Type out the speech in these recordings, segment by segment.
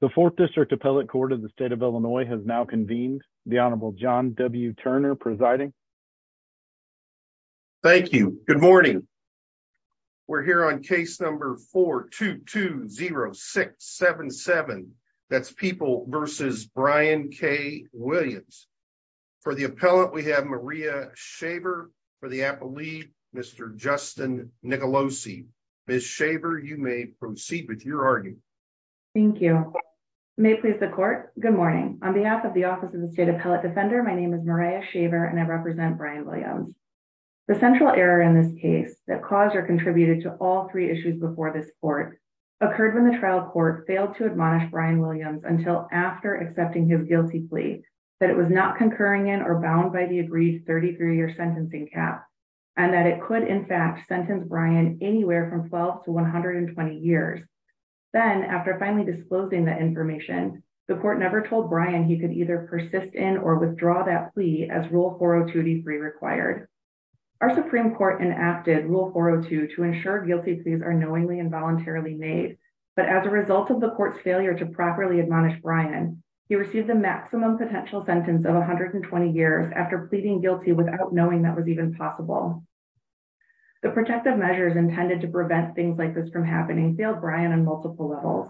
the fourth district appellate court of the state of illinois has now convened the honorable john w turner presiding thank you good morning we're here on case number 4 2 2 0 6 7 7 that's people versus brian k williams for the appellant we have maria shaver for the appellee mr justin nicolosi miss shaver you may proceed with your argument thank you may please the court good morning on behalf of the office of the state appellate defender my name is maria shaver and i represent brian williams the central error in this case that cause or contributed to all three issues before this court occurred when the trial court failed to admonish brian williams until after accepting his guilty plea that it was not concurring in or bound by the agreed 33 year sentencing cap and that it could in fact sentence brian anywhere from 12 to 120 years then after finally disclosing that information the court never told brian he could either persist in or withdraw that plea as rule 402 d3 required our supreme court enacted rule 402 to ensure guilty pleas are knowingly and voluntarily made but as a result of the court's failure to properly admonish brian he received the maximum potential sentence of 120 years after pleading guilty without knowing that was even possible the protective measures intended to prevent things like this from happening failed brian on multiple levels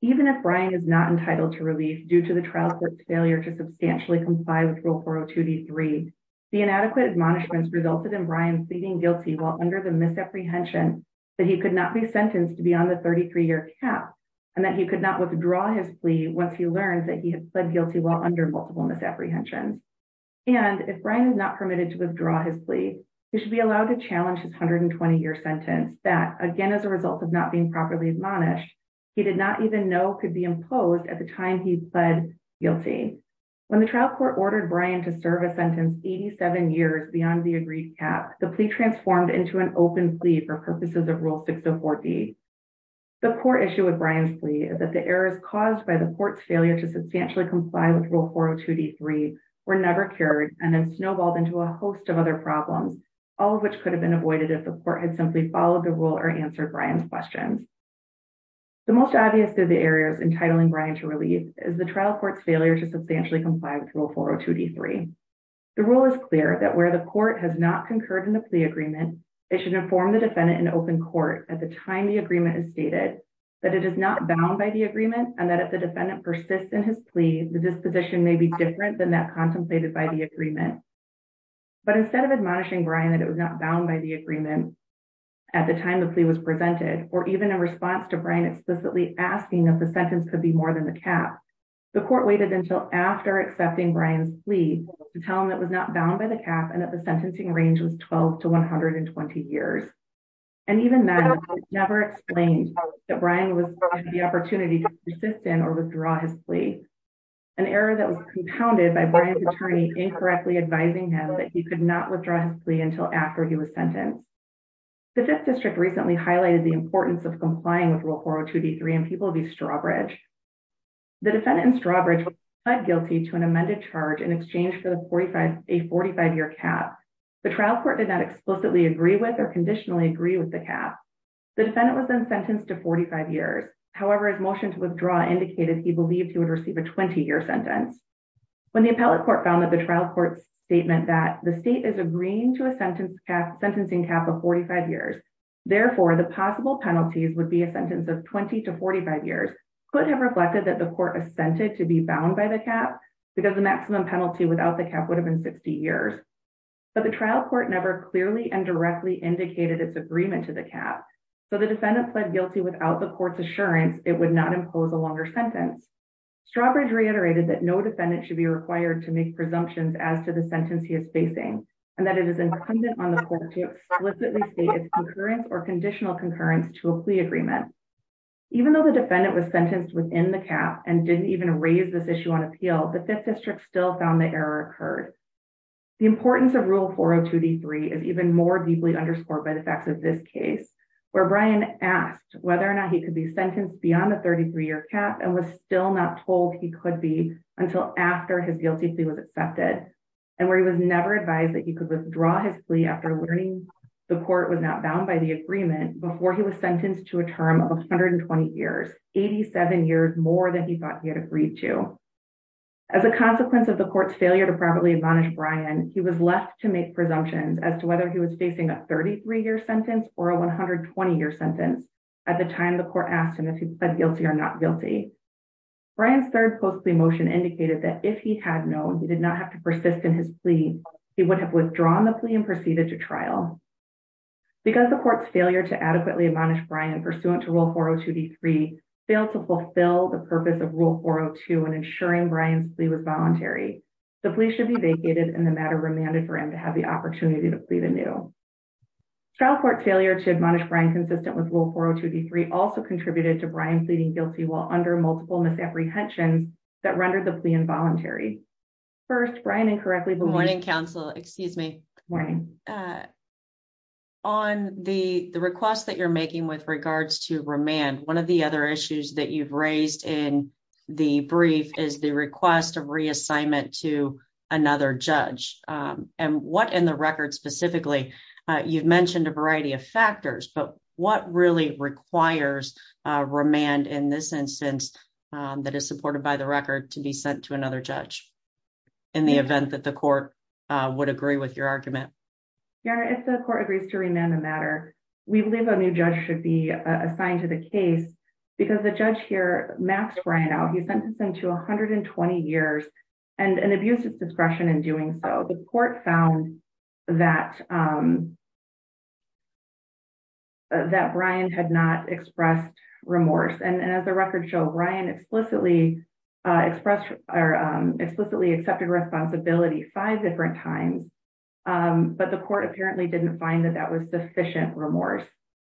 even if brian is not entitled to relief due to the trial court's failure to substantially comply with rule 402 d3 the inadequate admonishments resulted in brian pleading guilty while under the misapprehension that he could not be sentenced to be on the 33 year cap and that he could not withdraw his plea once he learned that he had pled guilty while multiple misapprehensions and if brian is not permitted to withdraw his plea he should be allowed to challenge his 120 year sentence that again as a result of not being properly admonished he did not even know could be imposed at the time he pled guilty when the trial court ordered brian to serve a sentence 87 years beyond the agreed cap the plea transformed into an open plea for purposes of rule 604d the core issue with brian's plea is that the errors caused by the court's failure to comply with rule 402 d3 were never cured and then snowballed into a host of other problems all of which could have been avoided if the court had simply followed the rule or answered brian's questions the most obvious of the areas entitling brian to relief is the trial court's failure to substantially comply with rule 402 d3 the rule is clear that where the court has not concurred in the plea agreement it should inform the defendant in open court at the time the agreement is stated that it is not bound by the agreement and that if the defendant persists in his plea the disposition may be different than that contemplated by the agreement but instead of admonishing brian that it was not bound by the agreement at the time the plea was presented or even in response to brian explicitly asking that the sentence could be more than the cap the court waited until after accepting brian's plea to tell him that was not bound by the cap and that the sentencing range was 12 to 120 years and even then it was never explained that brian the opportunity to persist in or withdraw his plea an error that was compounded by brian's attorney incorrectly advising him that he could not withdraw his plea until after he was sentenced the fifth district recently highlighted the importance of complying with rule 402 d3 and people be strawbridge the defendant in strawbridge pled guilty to an amended charge in exchange for the 45 a 45 year cap the trial court did not explicitly agree with or conditionally agree with the cap the defendant was then sentenced to 45 years however his motion to withdraw indicated he believed he would receive a 20-year sentence when the appellate court found that the trial court's statement that the state is agreeing to a sentence cap sentencing cap of 45 years therefore the possible penalties would be a sentence of 20 to 45 years could have reflected that the court assented to be bound by the cap because the maximum penalty without the cap would years but the trial court never clearly and directly indicated its agreement to the cap so the defendant pled guilty without the court's assurance it would not impose a longer sentence strawbridge reiterated that no defendant should be required to make presumptions as to the sentence he is facing and that it is incumbent on the court to explicitly state its concurrence or conditional concurrence to a plea agreement even though the defendant was sentenced within the cap and didn't raise this issue on appeal the fifth district still found the error occurred the importance of rule 402 d3 is even more deeply underscored by the facts of this case where brian asked whether or not he could be sentenced beyond the 33 year cap and was still not told he could be until after his guilty plea was accepted and where he was never advised that he could withdraw his plea after learning the court was not bound by the agreement before he was sentenced to a term of 120 years 87 years more than he thought he had agreed to as a consequence of the court's failure to properly admonish brian he was left to make presumptions as to whether he was facing a 33 year sentence or a 120 year sentence at the time the court asked him if he pled guilty or not guilty brian's third post plea motion indicated that if he had known he did not have to persist in his plea he would have withdrawn the plea and proceeded to trial because the court's failure to adequately admonish brian pursuant to rule 402 d3 failed to fulfill the purpose of rule 402 and ensuring brian's plea was voluntary the plea should be vacated and the matter remanded for him to have the opportunity to plead anew trial court failure to admonish brian consistent with rule 402 d3 also contributed to brian pleading guilty while under multiple misapprehensions that rendered the plea involuntary first brian incorrectly morning counsel excuse me morning uh on the the request that you're making with regards to remand one of the other issues that you've raised in the brief is the request of reassignment to another judge um and what in the record specifically uh you've mentioned a variety of factors but what really requires uh remand in this instance um that is supported by the record to be sent to another judge in the event that the court uh would agree with your argument yeah if the court agrees to remand the matter we believe a new judge should be assigned to the case because the judge here maxed brian out he sentenced him to 120 years and and abused his discretion in doing so the court found that um that brian had not expressed remorse and as the record show brian explicitly uh expressed or um explicitly accepted responsibility five different times um but the court apparently didn't find that that was sufficient remorse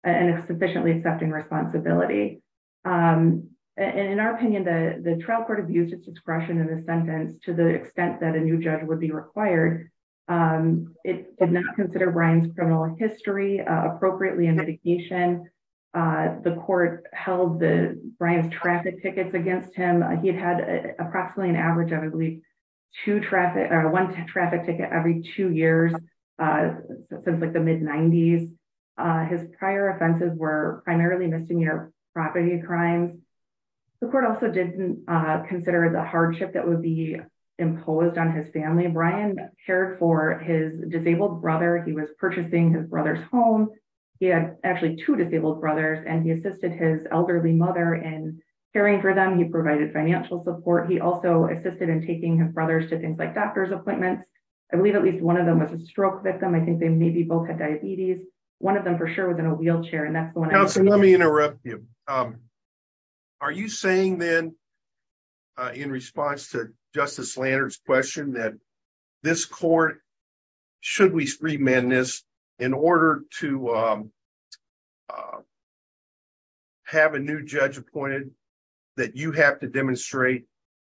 and it's sufficiently accepting responsibility um and in our opinion the the trial court abused its discretion in the sentence to the extent that a new judge would be required um it did not consider brian's criminal history appropriately in mitigation uh the court held the brian's traffic tickets against him he had had approximately an average of at least two traffic or one traffic ticket every two years uh since like the mid-90s uh his prior offenses were primarily misdemeanor property crimes the court also didn't uh consider the hardship that would be imposed on his family brian cared for his he had actually two disabled brothers and he assisted his elderly mother in caring for them he provided financial support he also assisted in taking his brothers to things like doctor's appointments i believe at least one of them was a stroke victim i think they maybe both had diabetes one of them for sure was in a wheelchair and that's the one let me interrupt you um are you saying then in response to justice lander's question that this court should we remand this in order to um have a new judge appointed that you have to demonstrate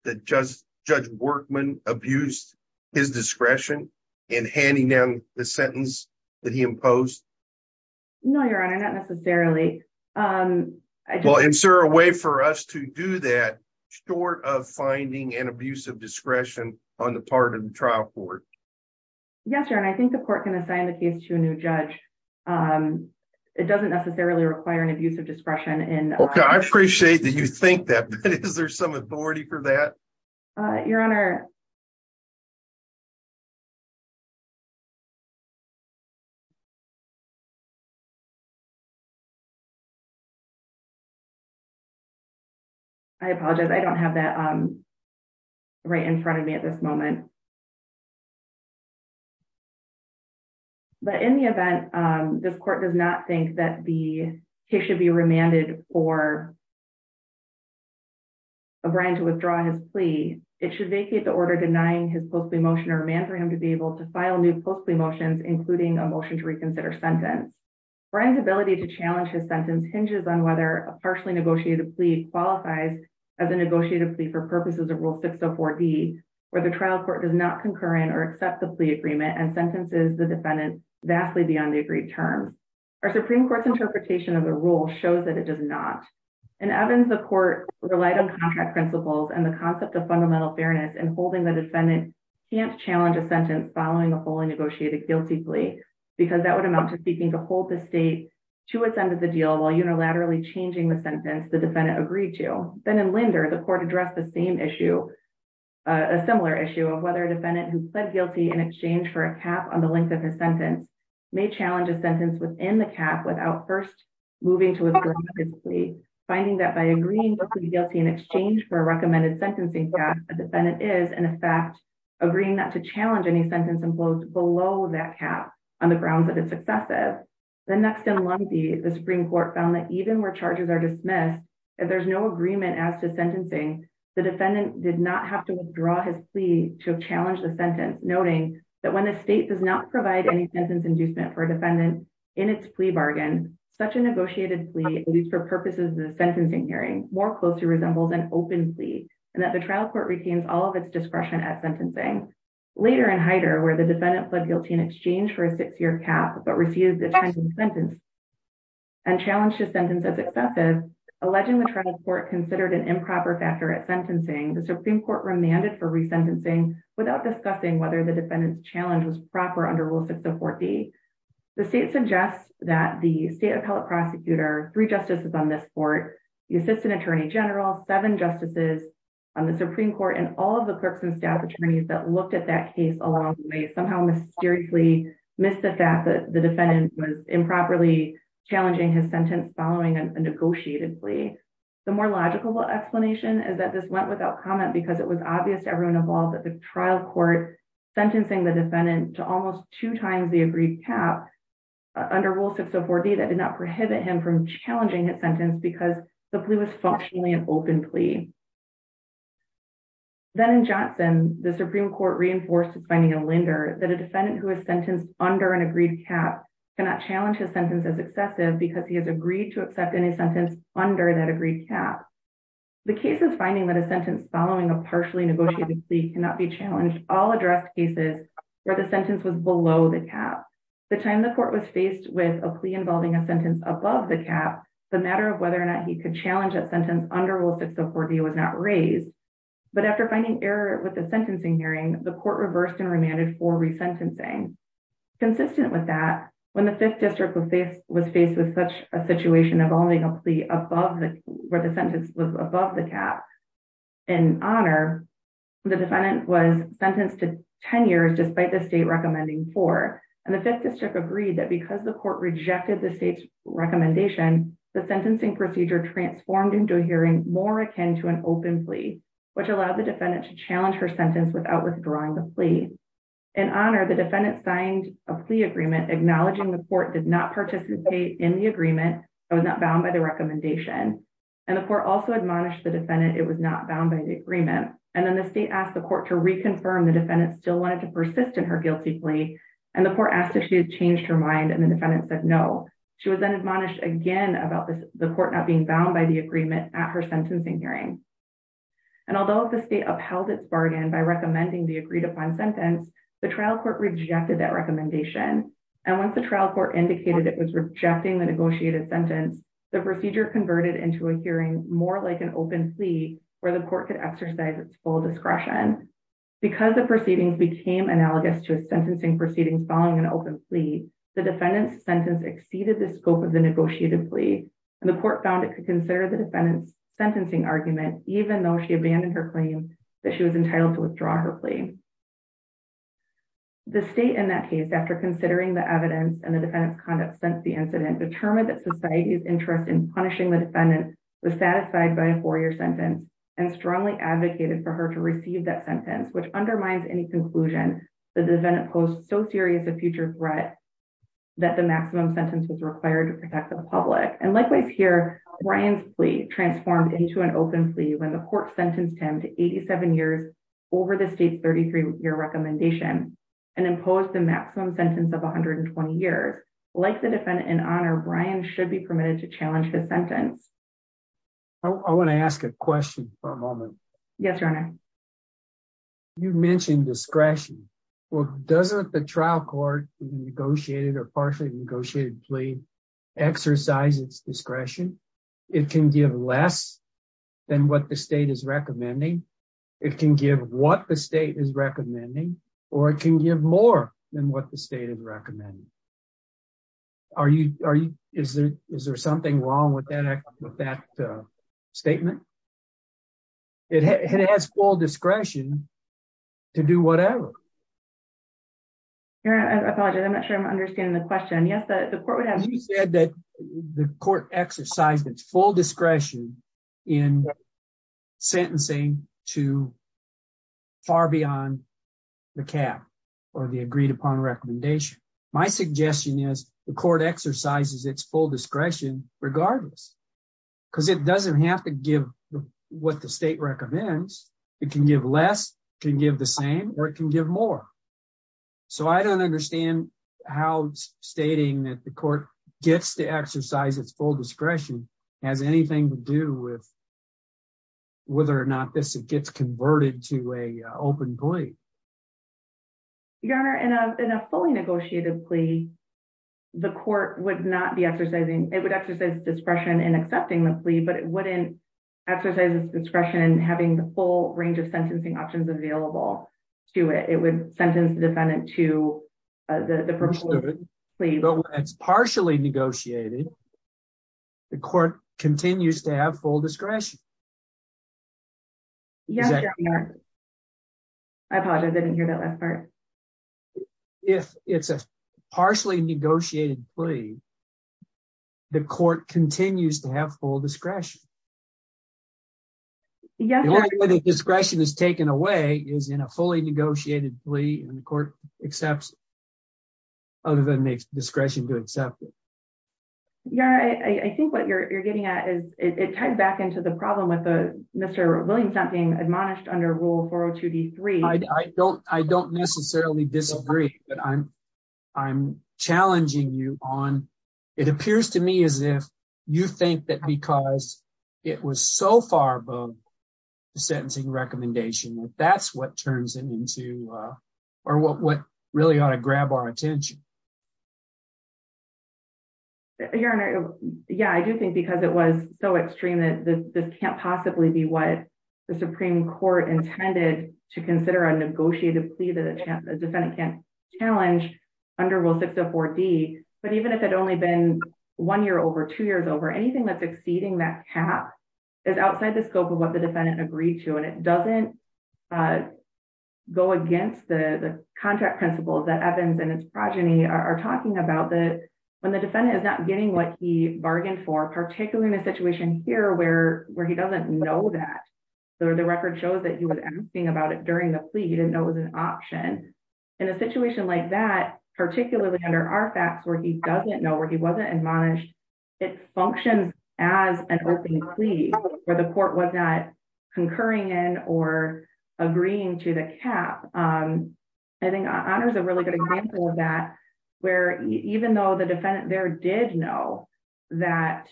that just judge workman abused his discretion in handing down the sentence that he imposed no your honor not necessarily um well insert a way for us to do that short of finding an abuse of discretion on the part of the trial court yes your honor i think the court can assign the case to a new judge um it doesn't necessarily require an abuse of discretion in okay i appreciate that you think that but is there some authority for that uh your honor i apologize i don't have that um right in front of me at this moment but in the event um this court does not think that the case should be remanded for a brian to withdraw his plea it should vacate the order denying his post-plea motion or remand for him to be able to file new post-plea motions including a motion to reconsider sentence brian's ability to challenge his sentence hinges on whether a partially negotiated plea qualifies as a negotiated plea for purposes of rule 604d where the trial court does not concur in or sentences the defendant vastly beyond the agreed term our supreme court's interpretation of the rule shows that it does not in evans the court relied on contract principles and the concept of fundamental fairness and holding the defendant can't challenge a sentence following a fully negotiated guilty plea because that would amount to seeking to hold the state to ascend to the deal while unilaterally changing the sentence the defendant agreed to then in linder the court addressed the same issue a similar issue of whether a defendant who pled guilty in exchange for a cap on the length of his sentence may challenge a sentence within the cap without first moving to a plea finding that by agreeing to be guilty in exchange for a recommended sentencing cap a defendant is in effect agreeing not to challenge any sentence imposed below that cap on the grounds that it's excessive then next in lundy the supreme court found that even where charges are dismissed if there's no agreement as to sentencing the defendant did not have to withdraw his plea to challenge the sentence noting that when the state does not provide any sentence inducement for a defendant in its plea bargain such a negotiated plea at least for purposes of the sentencing hearing more closely resembles an open plea and that the trial court retains all of its discretion at sentencing later in hider where the defendant pled guilty in exchange for a six-year cap but receives the sentence and challenged his sentence as excessive alleging the trial court considered an improper factor at sentencing the supreme court remanded for resentencing without discussing whether the defendant's challenge was proper under rule 6 of 4b the state suggests that the state appellate prosecutor three justices on this court the assistant attorney general seven justices on the supreme court and all of the clerks and staff attorneys that looked at that case along may somehow mysteriously miss the fact that the defendant was improperly challenging his sentence following a negotiated plea the more logical explanation is that this went without comment because it was obvious to everyone involved at the trial court sentencing the defendant to almost two times the agreed cap under rule 604d that did not prohibit him from challenging his sentence because the plea was functionally an open plea then in johnson the supreme court reinforced by neil linder that a defendant who is sentenced under an agreed cap cannot challenge his sentence as excessive because he has agreed to accept any under that agreed cap the case is finding that a sentence following a partially negotiated plea cannot be challenged all addressed cases where the sentence was below the cap the time the court was faced with a plea involving a sentence above the cap the matter of whether or not he could challenge that sentence under rule 604d was not raised but after finding error with the sentencing hearing the court reversed and remanded for resentencing consistent with that when the fifth district was faced with such a situation involving a plea above the where the sentence was above the cap in honor the defendant was sentenced to 10 years despite the state recommending four and the fifth district agreed that because the court rejected the state's recommendation the sentencing procedure transformed into a hearing more akin to an open plea which allowed the defendant to challenge her sentence without withdrawing the plea in honor the defendant signed a plea agreement acknowledging the court did not participate in the agreement that was not bound by the recommendation and the court also admonished the defendant it was not bound by the agreement and then the state asked the court to reconfirm the defendant still wanted to persist in her guilty plea and the court asked if she had changed her mind and the defendant said no she was then admonished again about the court not being bound by the agreement at her sentencing hearing and although the state upheld its bargain by recommending the agreed upon sentence the trial court rejected that recommendation and once the trial court indicated it was rejecting the negotiated sentence the procedure converted into a hearing more like an open plea where the court could exercise its full discretion because the proceedings became analogous to a sentencing proceedings following an open plea the defendant's sentence exceeded the scope of the negotiated plea and the court found it could consider the defendant's sentencing argument even though she abandoned her claim that she was entitled to withdraw her plea the state in that case after considering the evidence and the defendant's conduct since the incident determined that society's interest in punishing the defendant was satisfied by a four-year sentence and strongly advocated for her to receive that sentence which undermines any conclusion the defendant posed so serious a future threat that the maximum sentence was required to protect the public and likewise here brian's plea transformed into an open plea when the court sentenced him to 87 years over the state's 33-year recommendation and imposed the maximum sentence of 120 years like the defendant in honor brian should be permitted to challenge his sentence i want to ask a question for a moment yes your honor you mentioned discretion well doesn't the it can give less than what the state is recommending it can give what the state is recommending or it can give more than what the state is recommending are you are you is there is there something wrong with that with that statement it has full discretion to do whatever your honor i apologize i'm not sure i'm understanding the said that the court exercised its full discretion in sentencing to far beyond the cap or the agreed upon recommendation my suggestion is the court exercises its full discretion regardless because it doesn't have to give what the state recommends it can give less can give the same or it can give more so i don't understand how stating that the court gets to exercise its full discretion has anything to do with whether or not this gets converted to a open plea your honor in a fully negotiated plea the court would not be exercising it would exercise discretion in accepting the plea but it wouldn't exercise its discretion having the full range of sentencing options available to it it would sentence the defendant to the first of its partially negotiated the court continues to have full discretion yes i apologize i didn't hear that last part if it's a partially negotiated plea the court continues to have full discretion yes the only way the discretion is taken away is in a fully negotiated plea and the court accepts other than makes discretion to accept it yeah i i think what you're getting at is it tied back into the problem with the mr williamson being admonished under rule 402 d3 i don't i don't necessarily disagree but i'm i'm challenging you on it appears to me as if you think that because it was so far above the sentencing recommendation that that's what turns it into uh or what what really ought to grab our attention your honor yeah i do think because it was so extreme that this can't possibly be what the supreme court intended to consider a negotiated plea that a chance the defendant can't challenge under rule 604 d but even if it only been one year over two over anything that's exceeding that cap is outside the scope of what the defendant agreed to and it doesn't uh go against the the contract principles that evans and his progeny are talking about that when the defendant is not getting what he bargained for particularly in a situation here where where he doesn't know that so the record shows that he was asking about it during the plea he didn't know it was an option in a situation like that particularly under our facts where he doesn't know where he wasn't admonished it functions as an open plea where the court was not concurring in or agreeing to the cap um i think honor is a really good example of that where even though the defendant there did know that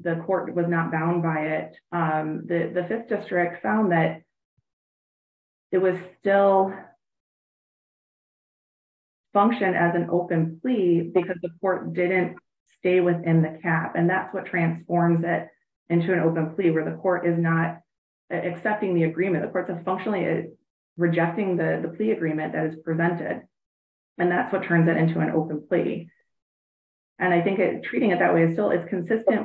the court was not bound by it um the the fifth didn't stay within the cap and that's what transforms it into an open plea where the court is not accepting the agreement the courts are functionally rejecting the the plea agreement that is prevented and that's what turns it into an open plea and i think it treating it that way is still it's consistent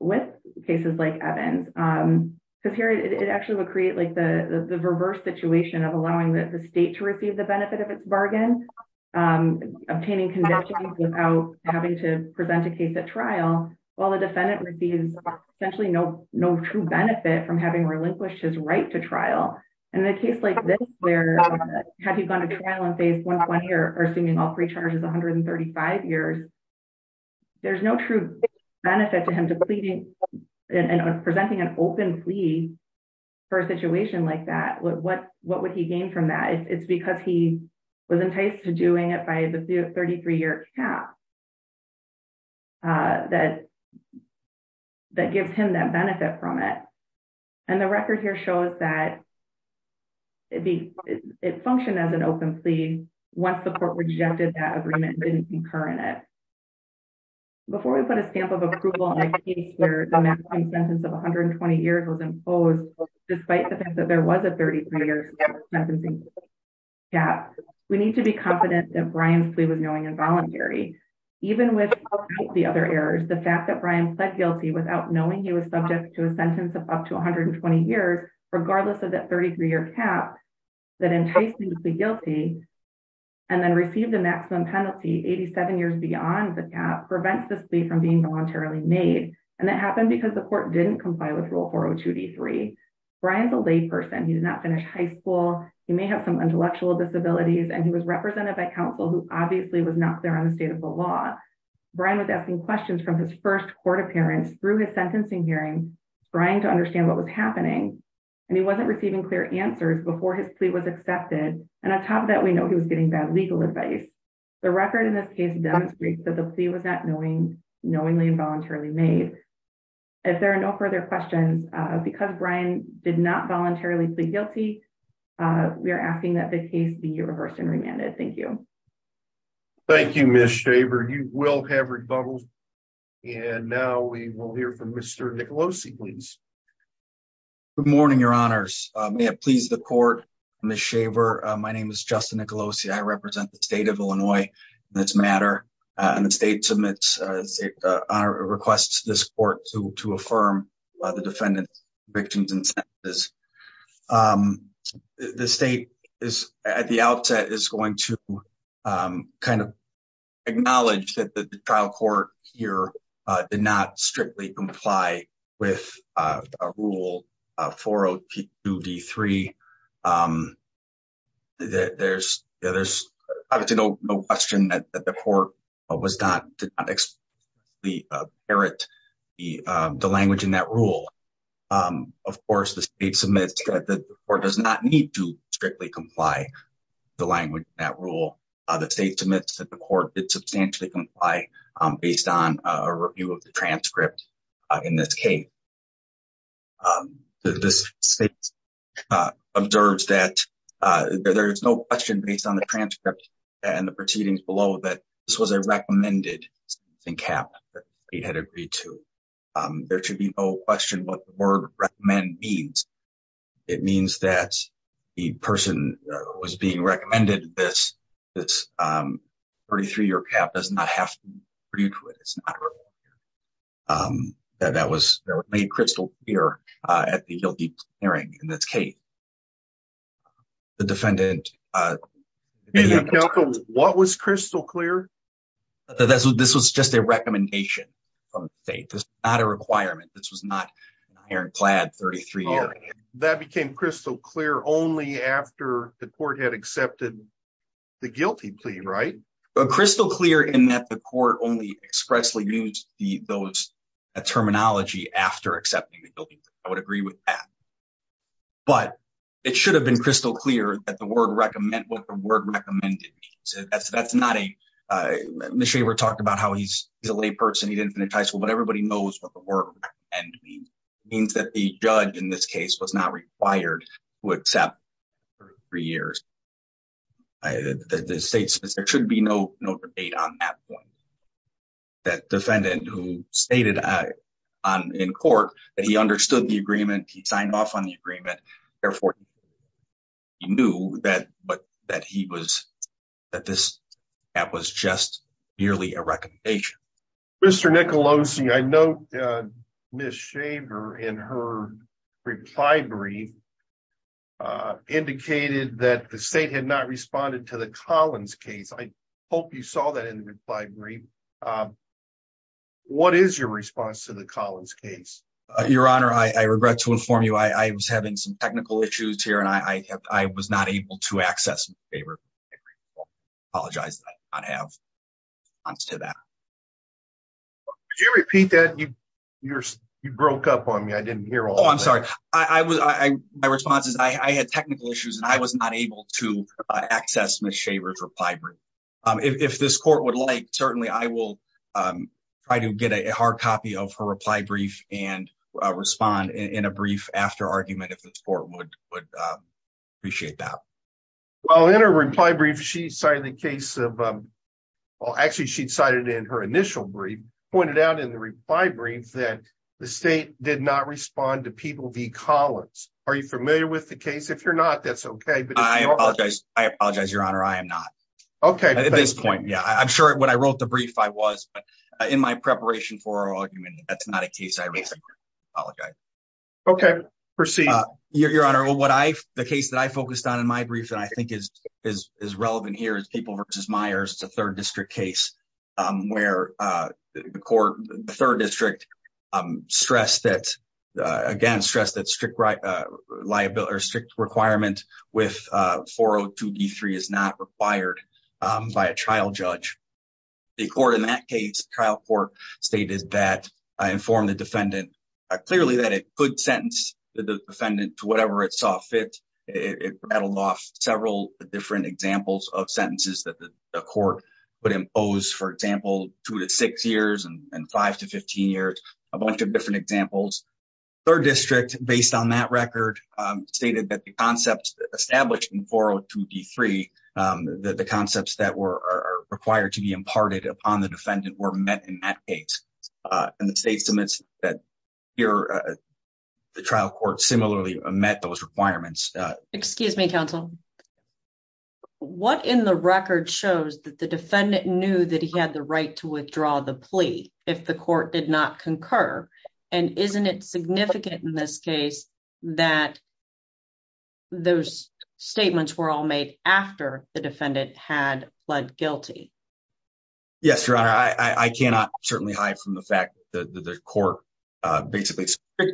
with cases like evans um because here it actually would create like the the reverse situation of allowing the state to receive the benefit of its bargain um obtaining conditions without having to present a case at trial while the defendant receives essentially no no true benefit from having relinquished his right to trial and in a case like this where have you gone to trial in phase 120 or assuming all three charges 135 years there's no true benefit to him depleting and presenting an open plea for a situation like that what what would he gain from that it's because he was enticed to doing it by the 33 year cap uh that that gives him that benefit from it and the record here shows that it be it functioned as an open plea once the court rejected that agreement didn't concur in it before we put a stamp of approval in a case where the that there was a 33 years cap we need to be confident that brian's plea was knowing and voluntary even with the other errors the fact that brian pled guilty without knowing he was subject to a sentence of up to 120 years regardless of that 33 year cap that enticed me to be guilty and then receive the maximum penalty 87 years beyond the cap prevents this plea from being voluntarily made and that happened because the court didn't comply with rule 402 d3 brian's a lay person he did not finish high school he may have some intellectual disabilities and he was represented by counsel who obviously was not clear on the state of the law brian was asking questions from his first court appearance through his sentencing hearing trying to understand what was happening and he wasn't receiving clear answers before his plea was accepted and on top of that we know he was getting bad legal advice the record in this case demonstrates that the plea was not knowing knowingly and voluntarily made if there are no further questions uh because brian did not voluntarily plead guilty uh we are asking that the case be reversed and remanded thank you thank you miss shaver you will have rebuttals and now we will hear from mr nicolosi please good morning your honors may it please the court miss shaver my name is justin nicolosi i represent the state of illinois this matter and the state submits a request to this court to to affirm the defendant's convictions and sentences the state is at the outset is going to kind of acknowledge that the trial court here did not strictly comply with a rule 402 d3 um there's there's obviously no no question that the court was not did not explicitly the language in that rule um of course the state submits that the court does not need to strictly comply the language that rule uh the state submits that the court did substantially based on a review of the transcript in this case this state observes that uh there is no question based on the transcript and the proceedings below that this was a recommended something cap that they had agreed to um there should be no question what the word recommend means it means that the person who was being recommended this this um 33 year cap does not have to agree to it it's not um that that was made crystal clear uh at the guilty hearing and that's kate the defendant uh what was crystal clear this was just a recommendation from the state this is not a requirement this was not an iron clad 33 year that became crystal clear only after the court had accepted the guilty plea right crystal clear in that the court only expressly used the those terminology after accepting the guilty i would agree with that but it should have been crystal clear that the word recommend what the word recommended so that's that's not a uh initially we're talking about how he's a lay person he didn't finish high school but everybody knows what the word and means means that the judge in this case was not required to accept for three years i the state says there should be no no debate on that point that defendant who stated on in court that he understood the agreement he signed off on the agreement therefore he knew that but that he was that this that was just merely a recommendation mr nicolosi i note miss shaver in her reply brief uh indicated that the state had not responded to the collins case i hope you saw that in the reply brief um what is your response to the collins case your honor i i regret to inform you i i was having some technical issues here and i i have i was not able to access favor apologize i have to that could you repeat that you you're you broke up on me i didn't hear all i'm sorry i i was i my response is i i had technical issues and i was not able to access miss shaver's reply brief um if this court would like certainly i will um try to get a hard copy of her reply brief and respond in a brief after argument if this court would would appreciate that well in her reply brief she cited the case of um well actually she decided in her initial brief pointed out in the reply brief that the state did not respond to people v collins are you familiar with the case if you're not that's okay but i apologize i apologize your honor i am not okay at this point yeah i'm sure when i wrote the brief i was but in my preparation for argument that's not a case i would apologize okay proceed your honor what i the case that i focused on in my brief and i think is is is relevant here is people versus meyers it's a third district case where uh the court the third district um stressed that uh again stress that strict liability or strict requirement with uh 402 d3 is not required um by a trial judge the court in that case trial court stated that i informed the defendant clearly that it could sentence the defendant to whatever it saw fit it rattled off several different examples of sentences that the court would impose for example two to six years and five to 15 years a bunch of different examples third district based on that record stated that the concepts established in 402 d3 um that the concepts that were are required to be imparted upon the defendant were met in that case uh and the state submits that here the trial court similarly met those requirements excuse me counsel what in the record shows that the defendant knew that he had the right to withdraw the plea if the court did not concur and isn't it significant in this case that those statements were all made after the defendant had pled guilty yes your honor i i cannot certainly hide from the fact that the court uh basically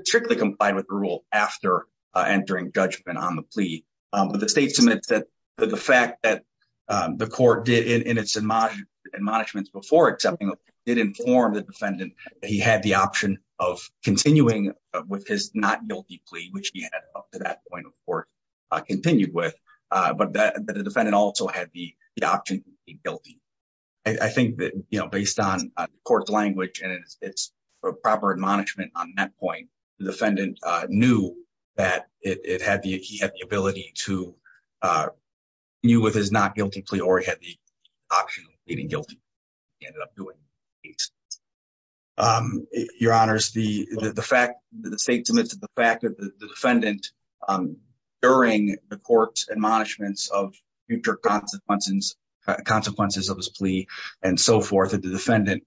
strictly complied with the rule after uh entering judgment on the plea um but the state submits that the fact that um the court did in its admonishments before accepting did inform the defendant he had the option of continuing with his not guilty plea which he had up to that point of court uh continued with uh but that the defendant also had the the option to be guilty i think that you know based on the court's language and it's a proper admonishment on that point the defendant uh knew that it had the he had the ability to uh knew with his not guilty plea or he had the option of pleading guilty he ended up doing it um your honors the the fact that the state submits the fact that the defendant um during the court's admonishments of future consequences consequences of his plea and so forth that the defendant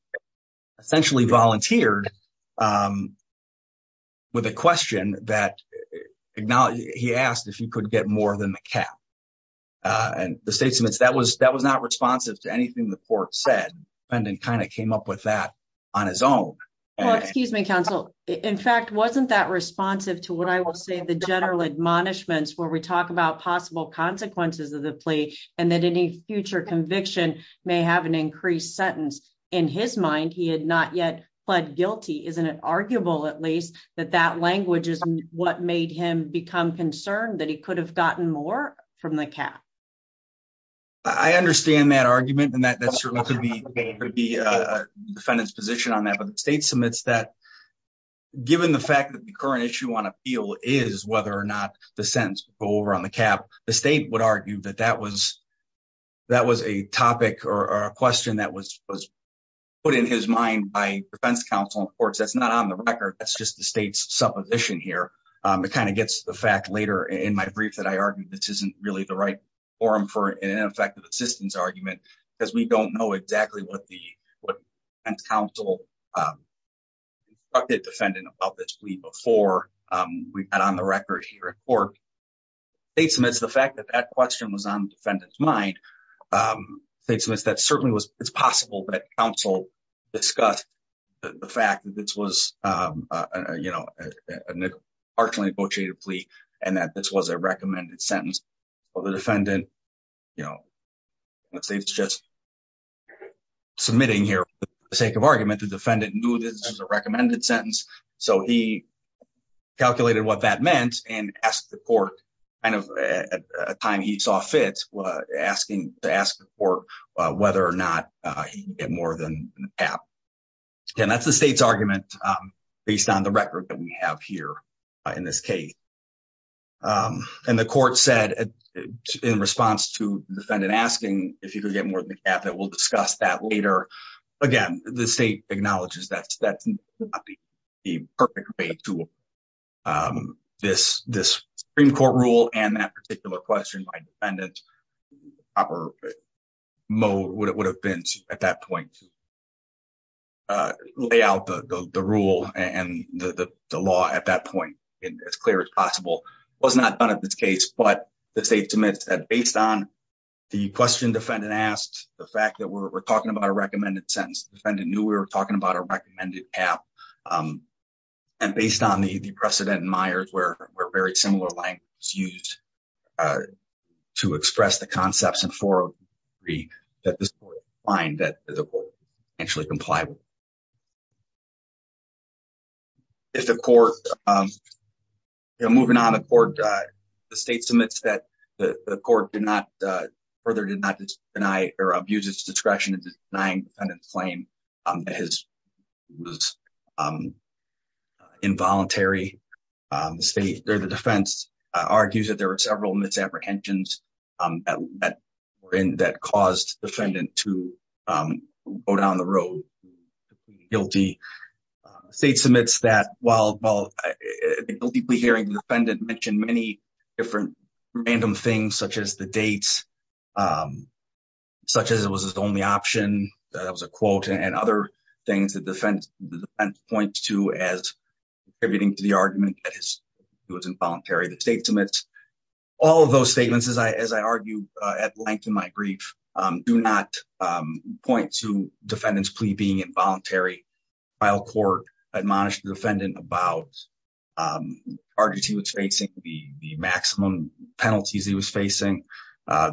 essentially volunteered um with a question that acknowledged he asked if he could get more than the cap uh and the state submits that was that was not responsive to anything the on his own well excuse me counsel in fact wasn't that responsive to what i will say the general admonishments where we talk about possible consequences of the plea and that any future conviction may have an increased sentence in his mind he had not yet pled guilty isn't it arguable at least that that language is what made him become concerned that he could have gotten more from the cap i understand that argument and that that certainly could be could be a defendant's position on that but the state submits that given the fact that the current issue on appeal is whether or not the sentence will go over on the cap the state would argue that that was that was a topic or a question that was was put in his mind by defense counsel of course that's not on the record that's just the state's supposition here um it kind of gets the fact in my brief that i argued this isn't really the right forum for an ineffective assistance argument because we don't know exactly what the what counsel um talked to a defendant about this plea before um we've got on the record here at court they submit the fact that that question was on the defendant's mind um statements that certainly was it's possible that counsel discussed the fact that this was um uh you know a partially negotiated plea and that this was a recommended sentence for the defendant you know let's say it's just submitting here for the sake of argument the defendant knew this was a recommended sentence so he calculated what that meant and asked the court kind of at a time he saw fit asking to ask the court whether or not he can get more than the cap again that's the state's argument based on the record that we have here in this case and the court said in response to defendant asking if you could get more than the cap that we'll discuss that later again the state acknowledges that that's not the perfect way to um this this supreme court rule and that particular question by defendant proper mode would it would have been at that point uh lay out the the rule and the the law at that point and as clear as possible was not done at this case but the state submits that based on the question defendant asked the fact that we're talking about a recommended sentence defendant knew we were talking about a recommended cap um and based on the precedent in Myers where we're very similar language used uh to express the concepts in 403 that this would find that the court actually complied with if the court um you know moving on the court uh the state submits that the the court did not uh further did not deny or abuse its discretion in denying defendant's claim um that his was um involuntary um the state or the defense argues that there were several misapprehensions um that were in that caused defendant to um go down the road guilty state submits that while while the guilty hearing defendant mentioned many different random things such as the dates um such as it was his only option that was a quote and other things that defense the defense points to as contributing to the argument that his it was involuntary the state submits all of those statements as I as I argue uh at length in my brief um do not um point to defendant's plea being involuntary while court admonished the defendant about um the charges he was facing the the maximum penalties he was facing uh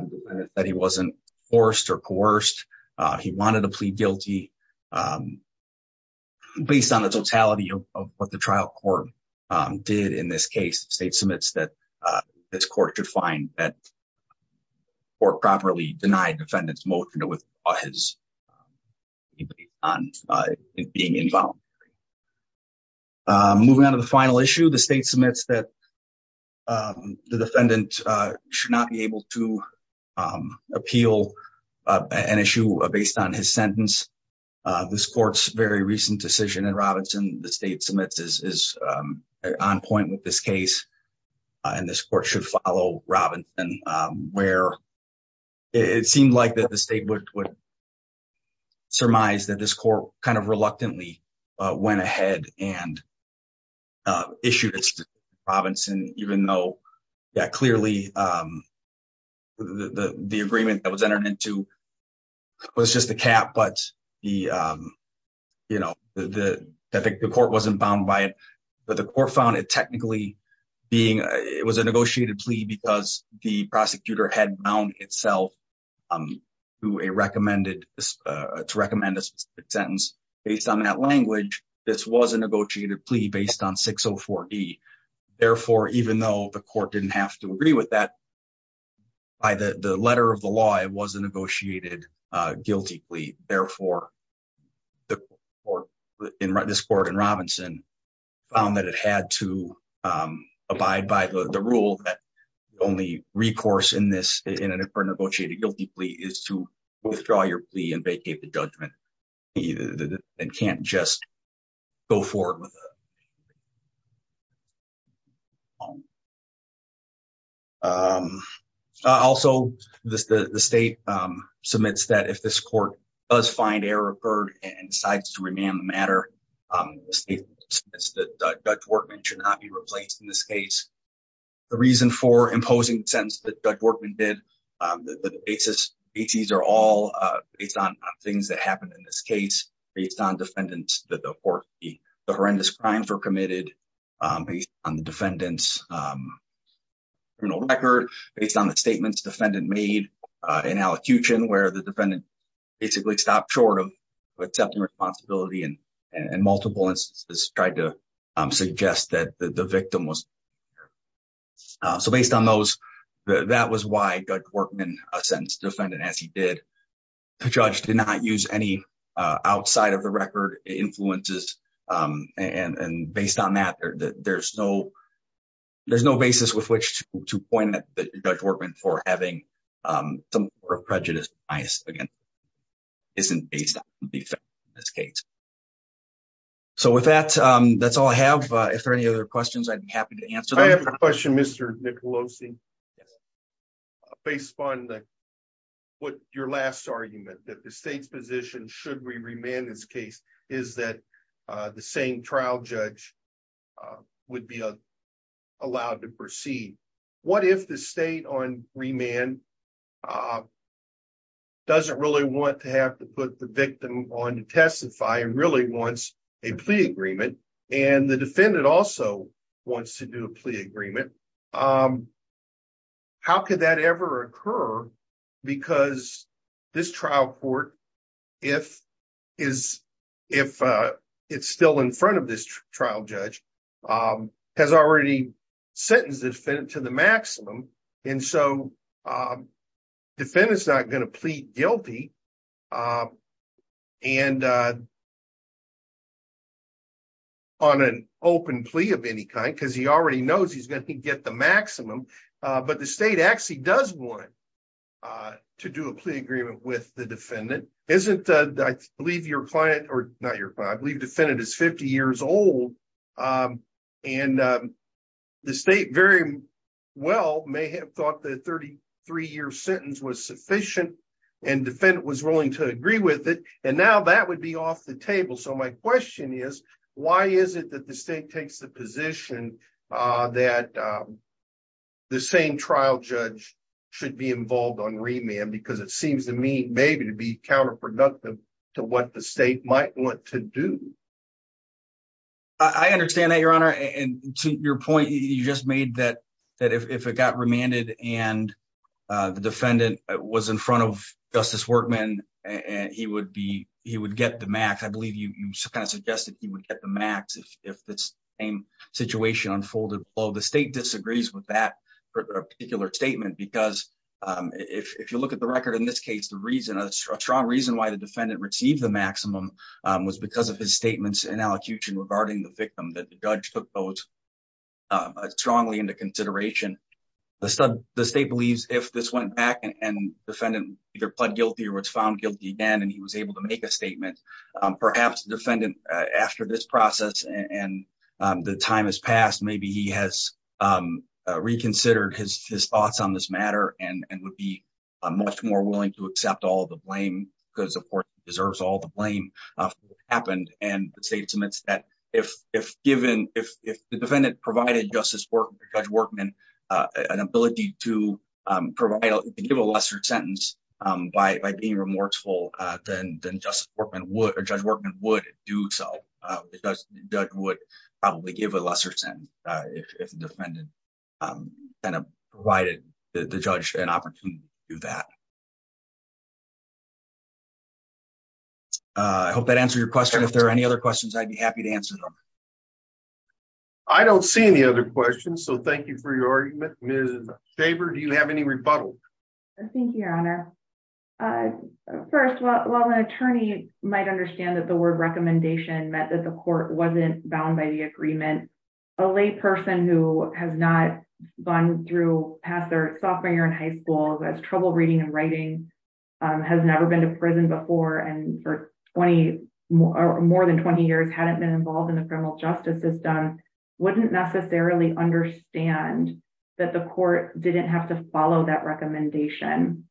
that he wasn't forced or coerced uh he wanted to plead guilty um based on the totality of what the trial court um did in this case the state submits that uh this court could find that or properly denied defendant's motion to withdraw his on uh being involuntary um moving on to the final issue the state submits that um the defendant uh should not be able to um appeal uh an issue based on his sentence uh this court's very recent decision in robinson the state submits is is um on point with this case and this court should follow robinson um where it seemed like that the state would surmise that this court kind of reluctantly uh went ahead and uh issued its province and even though yeah clearly um the the agreement that was entered into was just a cap but the um you know the the I think the court wasn't bound by it but the court found it technically being it was a negotiated plea because the prosecutor had bound itself um to a recommended to recommend a specific sentence based on that language this was a negotiated plea based on 604d therefore even though the court didn't have to agree with that by the the letter of the law it was a negotiated uh guilty plea therefore the court in this court in robinson found that it had to um abide by the the rule that the only recourse in this in a negotiated guilty plea is to withdraw your plea and vacate the judgment and can't just go forward with a um also the the state um submits that if this court does find error occurred and decides to be replaced in this case the reason for imposing the sentence that judge workman did um the basis bts are all uh based on things that happened in this case based on defendants that the court the horrendous crimes were committed um based on the defendant's um criminal record based on the statements defendant made uh in allocution where the defendant basically stopped short of accepting responsibility and and multiple instances tried to um suggest that the victim was so based on those that was why judge workman a sentence defendant as he did the judge did not use any uh outside of the record influences um and and based on that there's no there's no basis with which to point that judge workman for having um some sort of prejudice bias again isn't based on this case so with that um that's all i have uh if there any other questions i'd be happy to answer i have a question mr nicolosi based upon the what your last argument that the state's position should we remand this case is that uh the same trial judge uh would be allowed to proceed what if the state on remand uh doesn't really want to have to put the victim on to testify and really wants a plea agreement and the defendant also wants to do a plea agreement um how could that ever occur because this trial court if is if uh it's still in front of this trial judge um has already sentenced the defendant to the maximum and so um defendant's not going to plead guilty and uh on an open plea of any kind because he already knows he's going to get the maximum uh but the state actually does want uh to do a plea agreement with the defendant isn't uh believe your client or not your client believe defendant is 50 years old um and um the state very well may have thought the 33 year sentence was sufficient and defendant was willing to agree with it and now that would be off the table so my question is why is it that the state takes the position uh that um the same trial judge should be involved on remand because it seems to me maybe to be counterproductive to what the state might want to do i understand that your honor and to your point you just made that that if it got remanded and uh the defendant was in front of justice workman and he would be he would get the math i believe you you kind of suggested he would get the max if this same situation unfolded well the state disagrees with that particular statement because um if if you look at the record in this case the a strong reason why the defendant received the maximum was because of his statements in allocution regarding the victim that the judge took those strongly into consideration the state believes if this went back and defendant either pled guilty or was found guilty again and he was able to make a statement perhaps defendant after this process and the time has passed maybe he has um reconsidered his his thoughts on this matter and and would be much more willing to accept all the blame because of course he deserves all the blame uh happened and the state submits that if if given if if the defendant provided justice work judge workman uh an ability to um provide to give a lesser sentence um by by being remorseful uh then then justice workman would do so uh because judge would probably give a lesser sentence uh if the defendant um kind of provided the judge an opportunity to do that uh i hope that answered your question if there are any other questions i'd be happy to answer them i don't see any other questions so thank you for your argument ms daver do you have any rebuttal thank you your honor uh first well while an attorney might understand that the word recommendation meant that the court wasn't bound by the agreement a lay person who has not gone through past their sophomore year in high school has trouble reading and writing um has never been to prison before and for 20 or more than 20 years hadn't been involved in the criminal justice system wouldn't necessarily understand that the court didn't have to follow that recommendation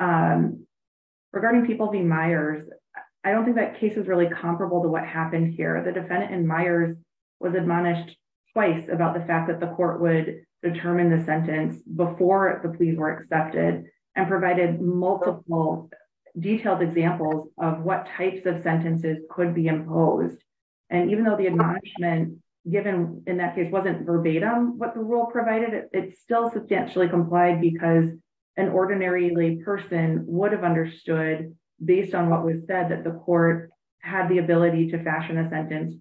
um regarding people being meyers i don't think that case is really comparable to what happened here the defendant and meyers was admonished twice about the fact that the court would determine the sentence before the pleas were accepted and provided multiple detailed examples of what types of sentences could be imposed and even though the admonishment given in that case wasn't verbatim what the rule provided it still substantially complied because an ordinary lay person would have understood based on what was said that the court had the ability to fashion a sentence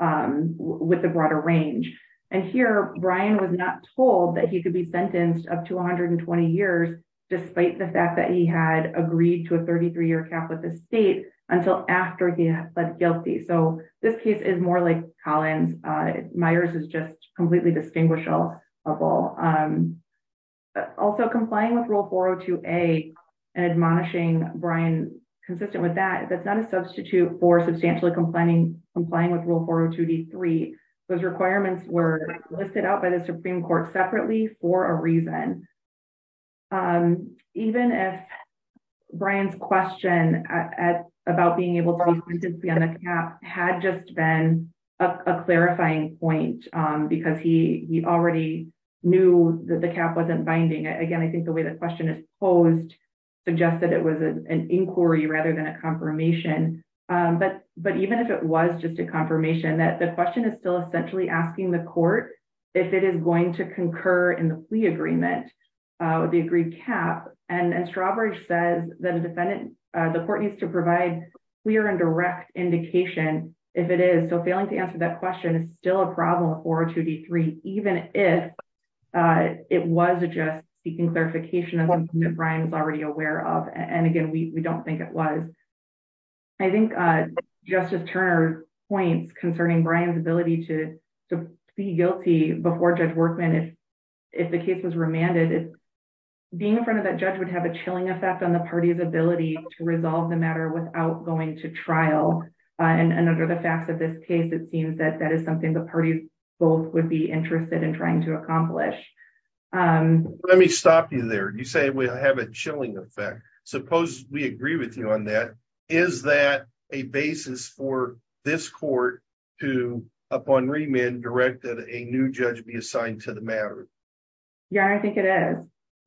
um with the broader range and here brian was not told that he could be sentenced up to 120 years despite the fact that he had agreed to a 33-year cap with the state until after he had pled guilty so this case is more like collins uh meyers is just completely distinguishable also complying with rule 402a and admonishing brian consistent with that that's not a substitute for substantially complaining complying with rule 402d3 those requirements were listed out of the supreme court separately for a reason um even if brian's question at about being able to be on the cap had just been a clarifying point um because he he already knew that the cap wasn't binding again i think the way the question is posed suggested it was an inquiry rather than a confirmation um but but even if it was just a confirmation that the question is still essentially asking the court if it is going to concur in the plea agreement uh with the agreed cap and and strawbridge says that a defendant uh the court needs to provide clear and direct indication if it is so failing to answer that question is still a problem 402d3 even if uh it was just seeking clarification of what brian was already aware of and again we we don't think it was i think uh points concerning brian's ability to to be guilty before judge workman if if the case was remanded being in front of that judge would have a chilling effect on the party's ability to resolve the matter without going to trial and under the facts of this case it seems that that is something the parties both would be interested in trying to accomplish um let me stop you there you say we have a chilling effect suppose we agree with you on that is that a basis for this court to upon remand direct that a new judge be assigned to the matter yeah i think it is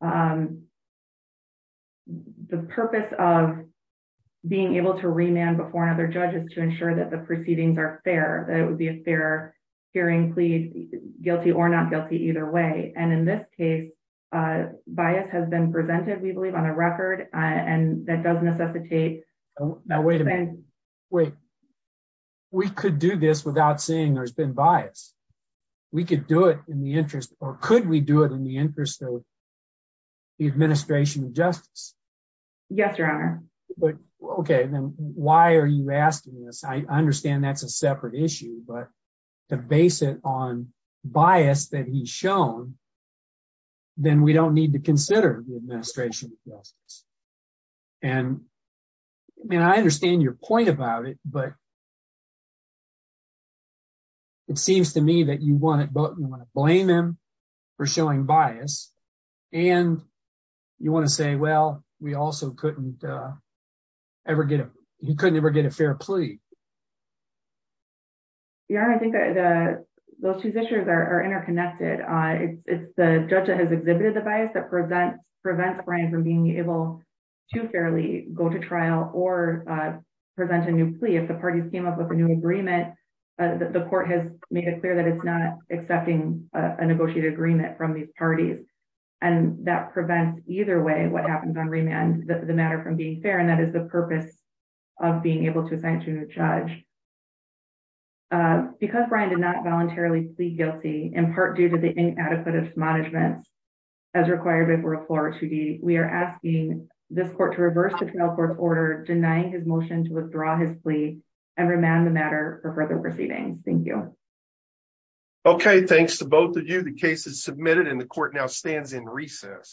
um the purpose of being able to remand before another judge is to ensure that the proceedings are fair that it would be a fair hearing please guilty or not guilty either way and in this case uh has been presented we believe on a record and that does necessitate now wait a minute wait we could do this without saying there's been bias we could do it in the interest or could we do it in the interest of the administration of justice yes your honor but okay then why are you asking this i understand that's a separate issue but to base it on bias that he's shown then we don't need to consider the administration justice and i mean i understand your point about it but it seems to me that you want it but you want to blame him for showing bias and you want to say well we also couldn't uh ever get him he couldn't ever get a fair plea um yeah i think the those two issues are interconnected uh it's the judge that has exhibited the bias that presents prevents brian from being able to fairly go to trial or uh present a new plea if the parties came up with a new agreement the court has made it clear that it's not accepting a negotiated agreement from these parties and that prevents either way what happens on remand the matter from being fair and that is the purpose of being able to assign a judge uh because brian did not voluntarily plead guilty in part due to the inadequate management as required before a floor to be we are asking this court to reverse the trial court order denying his motion to withdraw his plea and remand the matter for further proceedings thank you okay thanks to both of you the case is submitted and the court now stands in recess